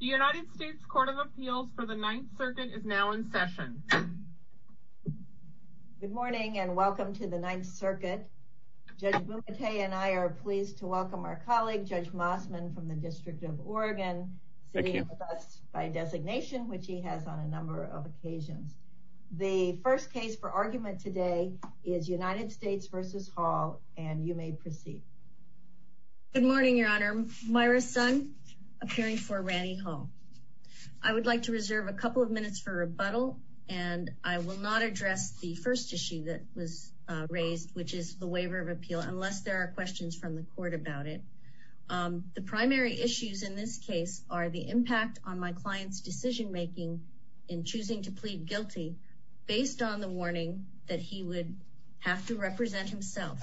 United States Court of Appeals for the Ninth Circuit is now in session. Good morning and welcome to the Ninth Circuit. Judge Bumate and I are pleased to welcome our colleague Judge Mossman from the District of Oregon sitting with us by designation which he has on a number of occasions. The first case for argument today is United States v. Hall and you may proceed. Good morning Your Honor. Myra Sun appearing for Randy Hall. I would like to reserve a couple of minutes for rebuttal and I will not address the first issue that was raised which is the waiver of appeal unless there are questions from the court about it. The primary issues in this case are the impact on my client's decision-making in choosing to plead guilty based on the warning that he would have to represent himself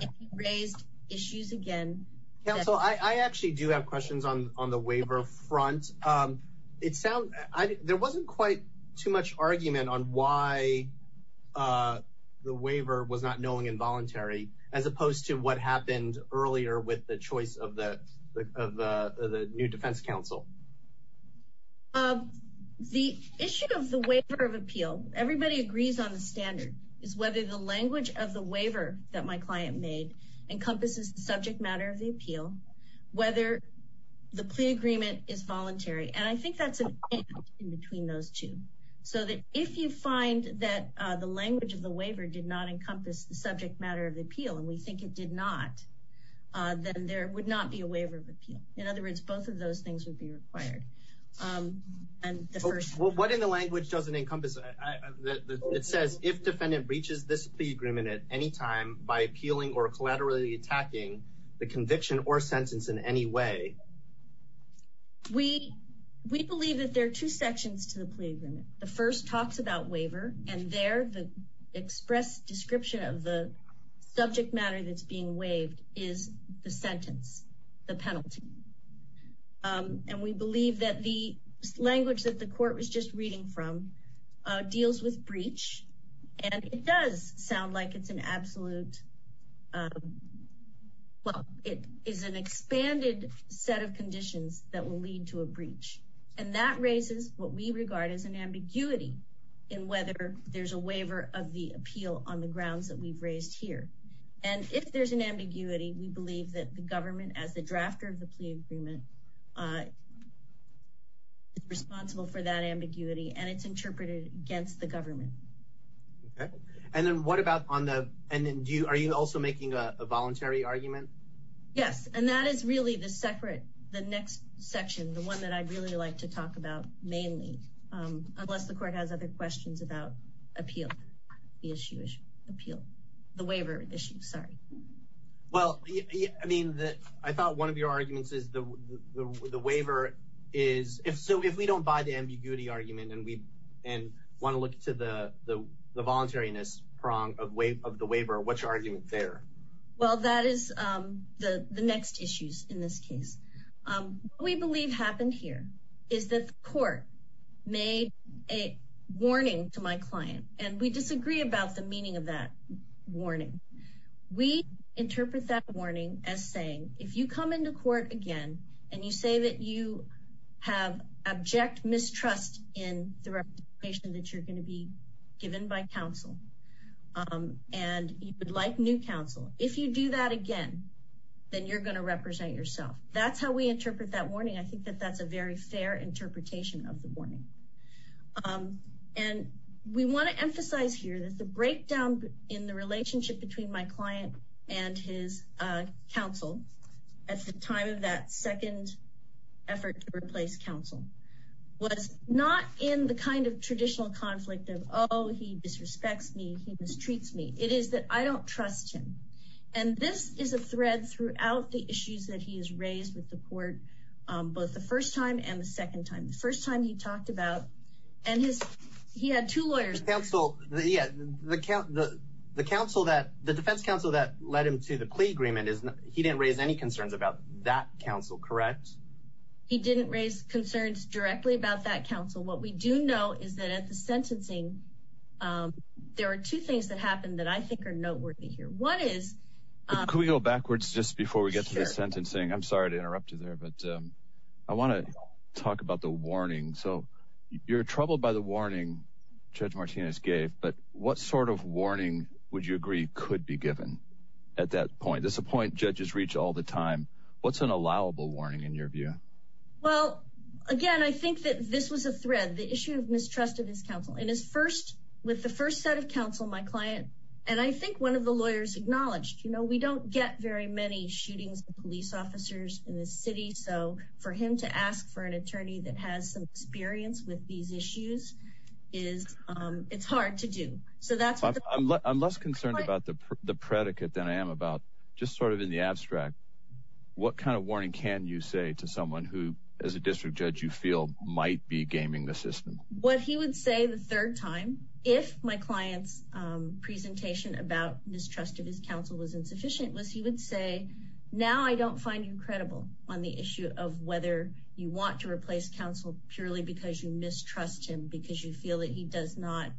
if he raised issues again. Counsel, I actually do have questions on on the waiver front. It sounds like there wasn't quite too much argument on why the waiver was not knowing involuntary as opposed to what happened earlier with the choice of the new defense counsel. The issue of the waiver of appeal everybody agrees on the standard is whether the language of the waiver that my client made encompasses the subject matter of the appeal whether the plea agreement is voluntary and I think that's an in between those two so that if you find that the language of the waiver did not encompass the subject matter of the appeal and we think it did not then there would not be a waiver of appeal. In other words both of those things would be required. What in the it says if defendant breaches this plea agreement at any time by appealing or collaterally attacking the conviction or sentence in any way. We believe that there are two sections to the plea agreement. The first talks about waiver and there the express description of the subject matter that's being waived is the sentence the penalty and we believe that the language that the court was just reading from deals with breach and it does sound like it's an absolute well it is an expanded set of conditions that will lead to a breach and that raises what we regard as an ambiguity in whether there's a waiver of the appeal on the grounds that we've raised here and if there's an ambiguity we believe that the government as the drafter of the plea agreement is responsible for that ambiguity and it's interpreted against the government. Okay and then what about on the and then do you are you also making a voluntary argument? Yes and that is really the separate the next section the one that I really like to talk about mainly unless the court has other questions about appeal the issue is appeal the waiver issue sorry. Well I mean that I thought one of your argument and we and want to look to the the the voluntariness prong of wave of the waiver what's your argument there? Well that is the the next issues in this case we believe happened here is that the court made a warning to my client and we disagree about the meaning of that warning we interpret that warning as saying if you come into court again and you say that you have abject mistrust in the representation that you're going to be given by counsel and you would like new counsel if you do that again then you're going to represent yourself that's how we interpret that warning I think that that's a very fair interpretation of the warning and we want to emphasize here that the breakdown in the relationship between my client and his counsel at the time of that second effort to replace counsel was not in the kind of traditional conflict of oh he disrespects me he mistreats me it is that I don't trust him and this is a thread throughout the issues that he is raised with the court both the first time and the second time the first time he talked about and his he had two lawyers counsel yeah the count the counsel that the defense counsel that led him to the plea agreement is he didn't raise any concerns about that counsel correct he didn't raise concerns directly about that counsel what we do know is that at the sentencing there are two things that happen that I think are noteworthy here one is can we go backwards just before we get to the sentencing I'm sorry to interrupt you there but I want to talk about the warning so you're troubled by the warning judge Martinez gave but what sort of warning would you agree could be given at that point that's a point judges reach all the time what's an allowable warning in your view well again I think that this was a thread the issue of mistrust of his counsel in his first with the first set of counsel my client and I think one of the lawyers acknowledged you know we don't get very many shootings police officers in this city so for him to ask for an attorney that has some experience with these issues is it's hard to do so that's what I'm less concerned about the predicate than I am about just sort of in the abstract what kind of warning can you say to someone who as a district judge you feel might be gaming the system what he would say the third time if my clients presentation about mistrust of his counsel was insufficient was he would say now I don't find you credible on the issue of whether you want to replace counsel purely because you mistrust him because you feel that he does not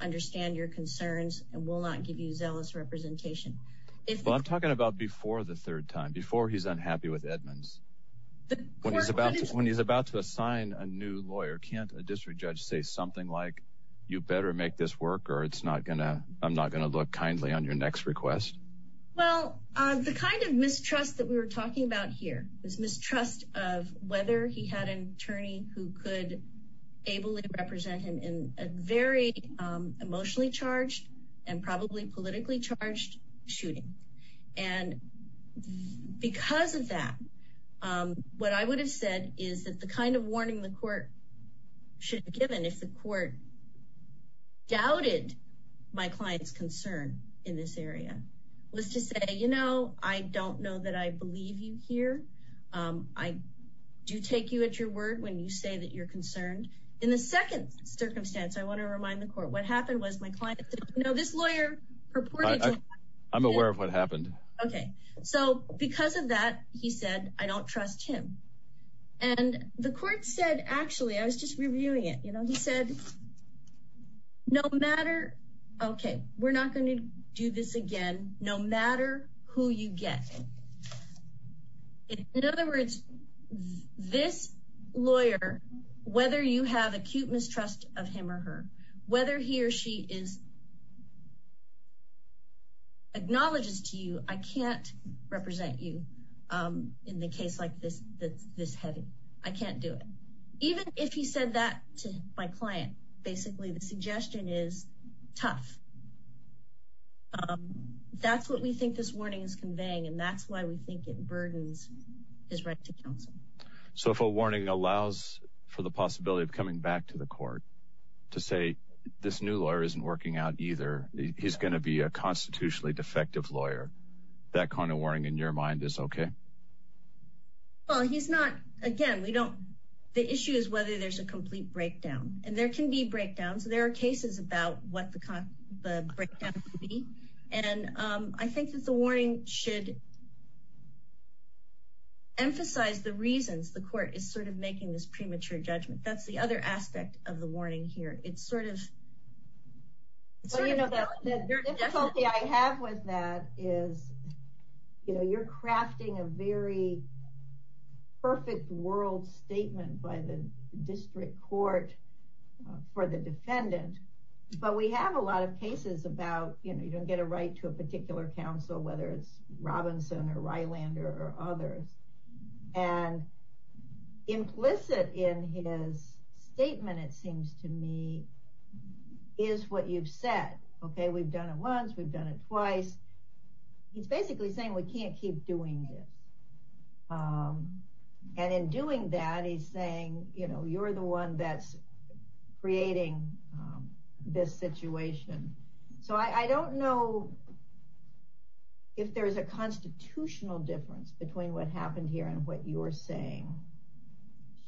understand your concerns and will not give you zealous representation if I'm talking about before the third time before he's unhappy with Edmonds when he's about when he's about to assign a new lawyer can't a district judge say something like you better make this work or it's not gonna I'm not gonna look kindly on your next request well the kind of mistrust that we were talking about here is mistrust of whether he had an attorney who could ably represent him in a very emotionally charged and probably politically charged shooting and because of that what I would have said is that the kind of warning the court should have given if the court doubted my clients concern in this area was to say you know I don't know that I believe you here I do take you at your word when you say that you're concerned in the second circumstance I want to remind the court what happened was my client you know this lawyer I'm aware of what happened okay so because of that he said I don't trust him and the court said actually I was just reviewing it you know he said no matter okay we're not going to do this again no matter who you get in other words this lawyer whether you have acute mistrust of him or her whether he or she is acknowledges to you I can't represent you in the case like this that's this heavy I can't do it even if he said that to my client basically the suggestion is tough that's what we think this warning is conveying and that's why we think it burdens his right to counsel so if a warning allows for the possibility of coming back to the court to say this new lawyer isn't working out either he's going to be a constitutionally defective lawyer that kind of warning in your mind is okay well he's not again we don't the issue is whether there's a complete breakdown and there can be breakdowns there are cases about what the kind of breakdown and I think that the warning should emphasize the reasons the court is sort of making this premature judgment that's the other aspect of the warning here it's sort of I have with that is you know you're crafting a very perfect world statement by the district court for the defendant but we have a lot of you know you don't get a right to a particular counsel whether it's Robinson or Rylander or others and implicit in his statement it seems to me is what you've said okay we've done it once we've done it twice he's basically saying we can't keep doing this and in doing that he's saying you know you're the one that's creating this situation so I don't know if there is a constitutional difference between what happened here and what you're saying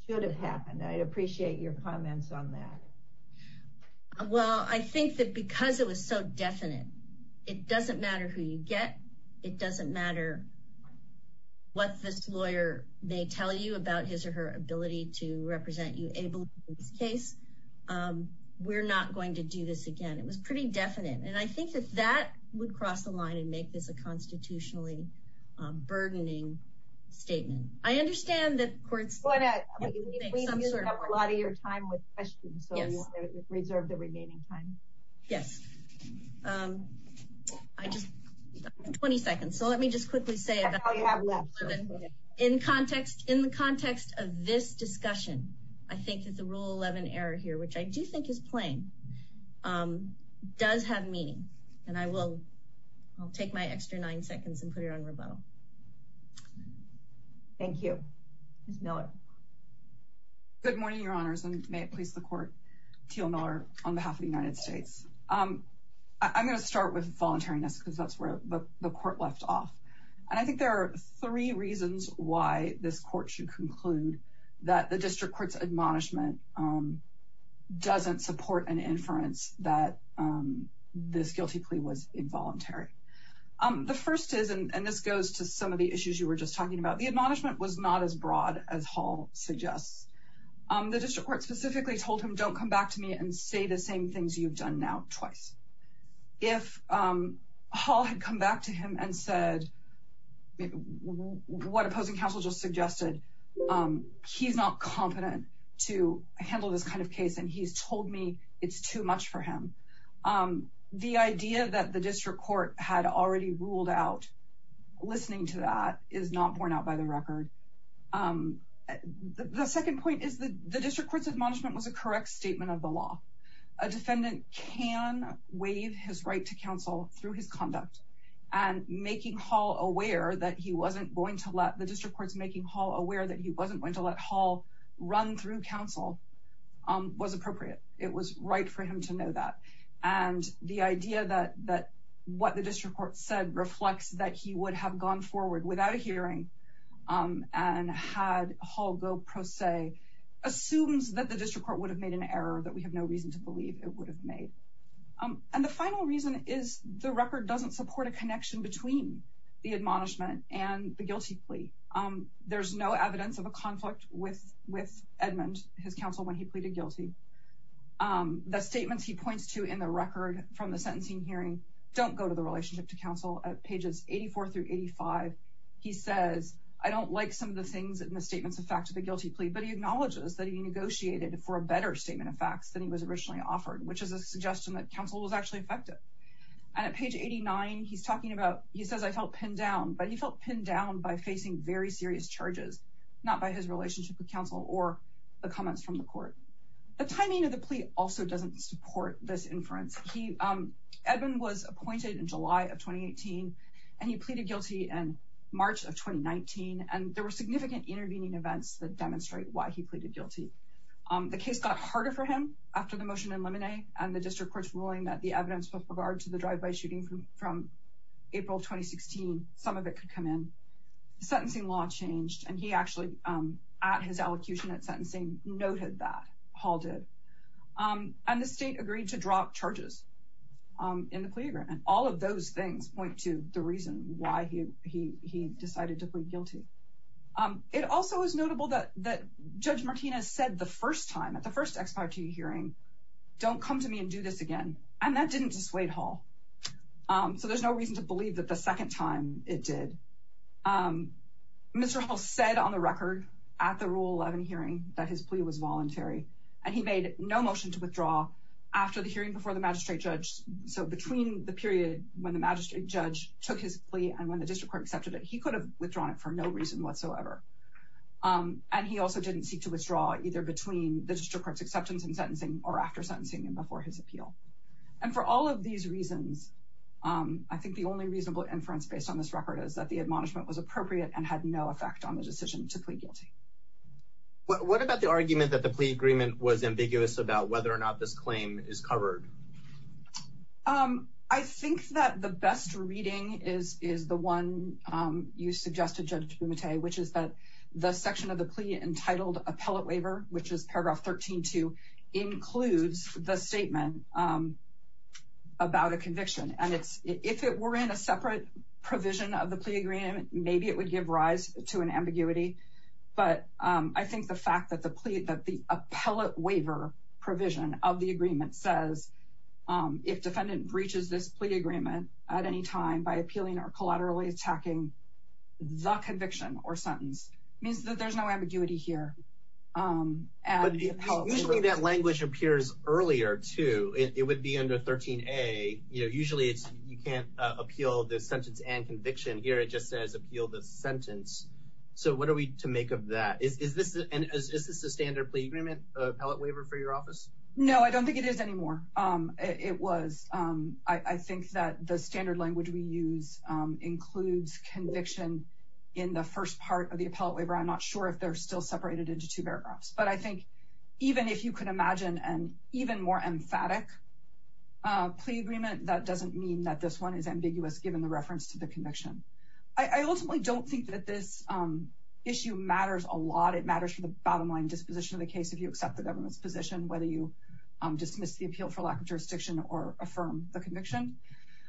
should have happened I'd appreciate your comments on that well I think that because it was so definite it doesn't matter who you get it doesn't matter what this lawyer may tell you about his or her ability to represent you able in this case we're not going to do this again it was pretty definite and I think that that would cross the line and make this a constitutionally burdening statement I understand that courts a lot of your time with questions so reserve the remaining time yes 20 seconds so let me just quickly say in context in the context of this discussion I think that the rule 11 error here which I do think is plain does have meaning and I will I'll take my extra nine seconds and put it on thank you good morning your honors and may it please the court Teal Miller on behalf of the United States I'm gonna start with voluntariness because that's where the court left off and I think there are three reasons why this court should conclude that the district courts admonishment doesn't support an inference that this guilty plea was some of the issues you were just talking about the admonishment was not as broad as Hall suggests the district court specifically told him don't come back to me and say the same things you've done now twice if Hall had come back to him and said what opposing counsel just suggested he's not competent to handle this kind of case and he's told me it's too much for him the idea that the district court had already ruled out listening to that is not borne out by the record the second point is the the district courts admonishment was a correct statement of the law a defendant can waive his right to counsel through his conduct and making Hall aware that he wasn't going to let the district courts making Hall aware that he wasn't going to let Hall run through counsel was appropriate it was right for him to know that and the idea that that what the district court said reflects that he would have gone forward without a hearing and had Hall go pro se assumes that the district court would have made an error that we have no reason to believe it would have made and the final reason is the record doesn't support a connection between the Edmund his counsel when he pleaded guilty the statements he points to in the record from the sentencing hearing don't go to the relationship to counsel at pages 84 through 85 he says I don't like some of the things in the statements of fact to the guilty plea but he acknowledges that he negotiated for a better statement of facts than he was originally offered which is a suggestion that counsel was actually effective and at page 89 he's talking about he says I felt pinned down but he felt pinned down by facing very serious charges not by his relationship with counsel or the comments from the court the timing of the plea also doesn't support this inference he Edmund was appointed in July of 2018 and he pleaded guilty in March of 2019 and there were significant intervening events that demonstrate why he pleaded guilty the case got harder for him after the motion in limine and the district courts ruling that the evidence with regard to the drive-by shooting from April 2016 some of it could come in sentencing law changed and he actually at his allocution at sentencing noted that Hall did and the state agreed to drop charges in the plea agreement all of those things point to the reason why he he decided to plead guilty it also is notable that that judge Martinez said the first time at the first expiry hearing don't come to me and do this again and that didn't dissuade Hall so there's no reason to believe that the Mr. Hall said on the record at the rule 11 hearing that his plea was voluntary and he made no motion to withdraw after the hearing before the magistrate judge so between the period when the magistrate judge took his plea and when the district court accepted it he could have withdrawn it for no reason whatsoever and he also didn't seek to withdraw either between the district courts acceptance and sentencing or after sentencing and before his appeal and for all of these reasons I think the only reasonable inference based on this is that the admonishment was appropriate and had no effect on the decision to plead guilty. What about the argument that the plea agreement was ambiguous about whether or not this claim is covered? I think that the best reading is is the one you suggested Judge Bumate which is that the section of the plea entitled appellate waiver which is paragraph 13 to includes the about a conviction and it's if it were in a separate provision of the plea agreement maybe it would give rise to an ambiguity but I think the fact that the plea that the appellate waiver provision of the agreement says if defendant breaches this plea agreement at any time by appealing or collaterally attacking the conviction or sentence means that there's no ambiguity here. Usually that would be under 13a you know usually it's you can't appeal this sentence and conviction here it just says appeal the sentence so what are we to make of that? Is this a standard plea agreement appellate waiver for your office? No I don't think it is anymore it was I think that the standard language we use includes conviction in the first part of the appellate waiver I'm not sure if they're still separated into two paragraphs but I think even if you could emphatic plea agreement that doesn't mean that this one is ambiguous given the reference to the conviction. I ultimately don't think that this issue matters a lot it matters for the bottom line disposition of the case if you accept the government's position whether you dismiss the appeal for lack of jurisdiction or affirm the conviction.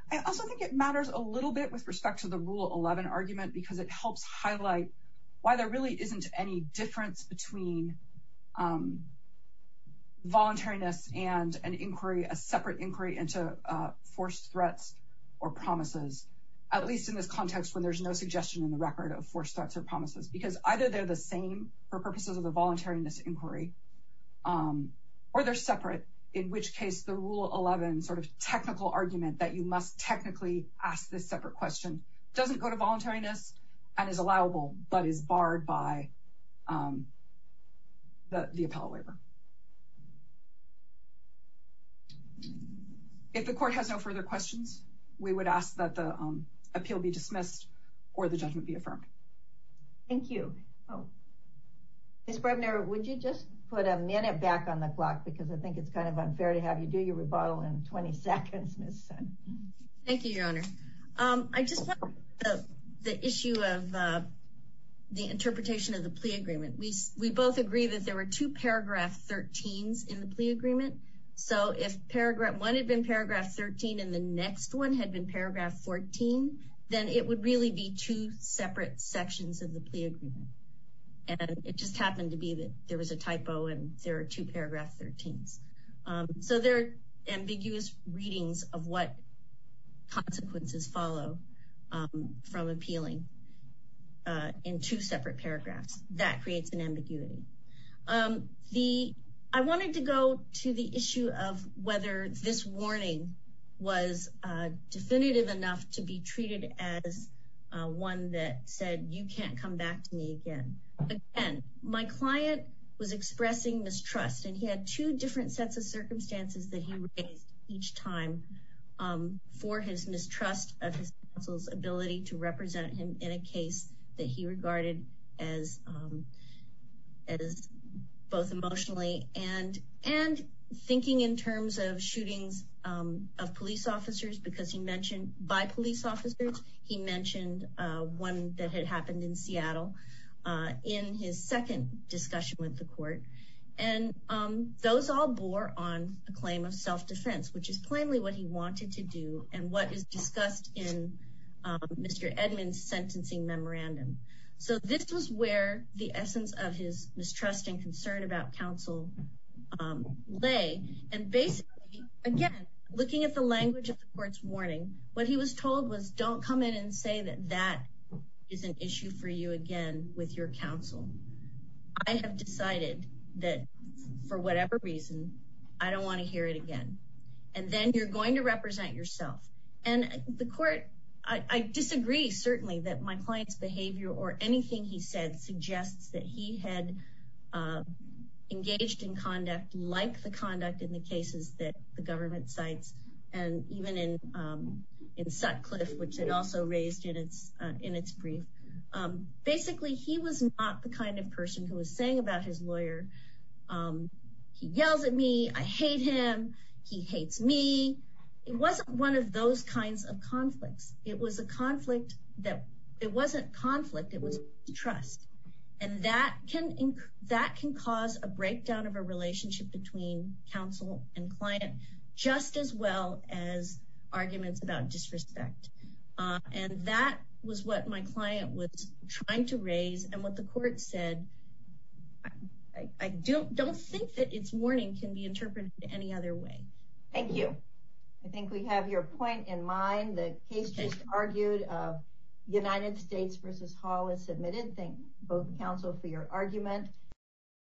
I also think it matters a little bit with respect to the rule 11 argument because it helps highlight why there really isn't any difference between voluntariness and an inquiry a separate inquiry into forced threats or promises at least in this context when there's no suggestion in the record of forced threats or promises because either they're the same for purposes of the voluntariness inquiry or they're separate in which case the rule 11 sort of technical argument that you must technically ask this separate question doesn't go to voluntariness and is barred by the appellate waiver. If the court has no further questions we would ask that the appeal be dismissed or the judgment be affirmed. Thank you. Oh Miss Brebner would you just put a minute back on the clock because I think it's kind of unfair to have you do your rebuttal in 20 seconds. Thank you I just want the issue of the interpretation of the plea agreement we we both agree that there were two paragraph 13s in the plea agreement so if paragraph one had been paragraph 13 and the next one had been paragraph 14 then it would really be two separate sections of the plea agreement and it just happened to be that there was a typo and there are two paragraph 13s so they're ambiguous readings of what consequences follow from appealing in two separate paragraphs that creates an ambiguity. I wanted to go to the issue of whether this warning was definitive enough to be treated as one that said you can't come back to me again. Again my client was expressing mistrust and he had two different sets of circumstances that he raised each time for his mistrust of his counsel's ability to represent him in a case that he regarded as both emotionally and and thinking in terms of shootings of police officers because he mentioned by police officers he mentioned one that had happened in Seattle in his second discussion with the court and those all bore on a claim of self-defense which is plainly what he wanted to do and what is discussed in Mr. Edmonds sentencing memorandum so this was where the essence of his mistrust and concern about counsel lay and basically again looking at the language of the court's warning what he was told was don't come in and issue for you again with your counsel. I have decided that for whatever reason I don't want to hear it again and then you're going to represent yourself and the court I disagree certainly that my client's behavior or anything he said suggests that he had engaged in conduct like the conduct in the cases that the government cites and even in Sutcliffe which it also raised in its in its brief basically he was not the kind of person who was saying about his lawyer he yells at me I hate him he hates me it wasn't one of those kinds of conflicts it was a conflict that it wasn't conflict it was trust and that can that can cause a breakdown of a relationship between counsel and client just as well as arguments about disrespect and that was what my client was trying to raise and what the court said I don't don't think that it's warning can be interpreted any other way. Thank you I think we have your point in mind the case just argued of United States versus Hall is submitted thank both counsel for your argument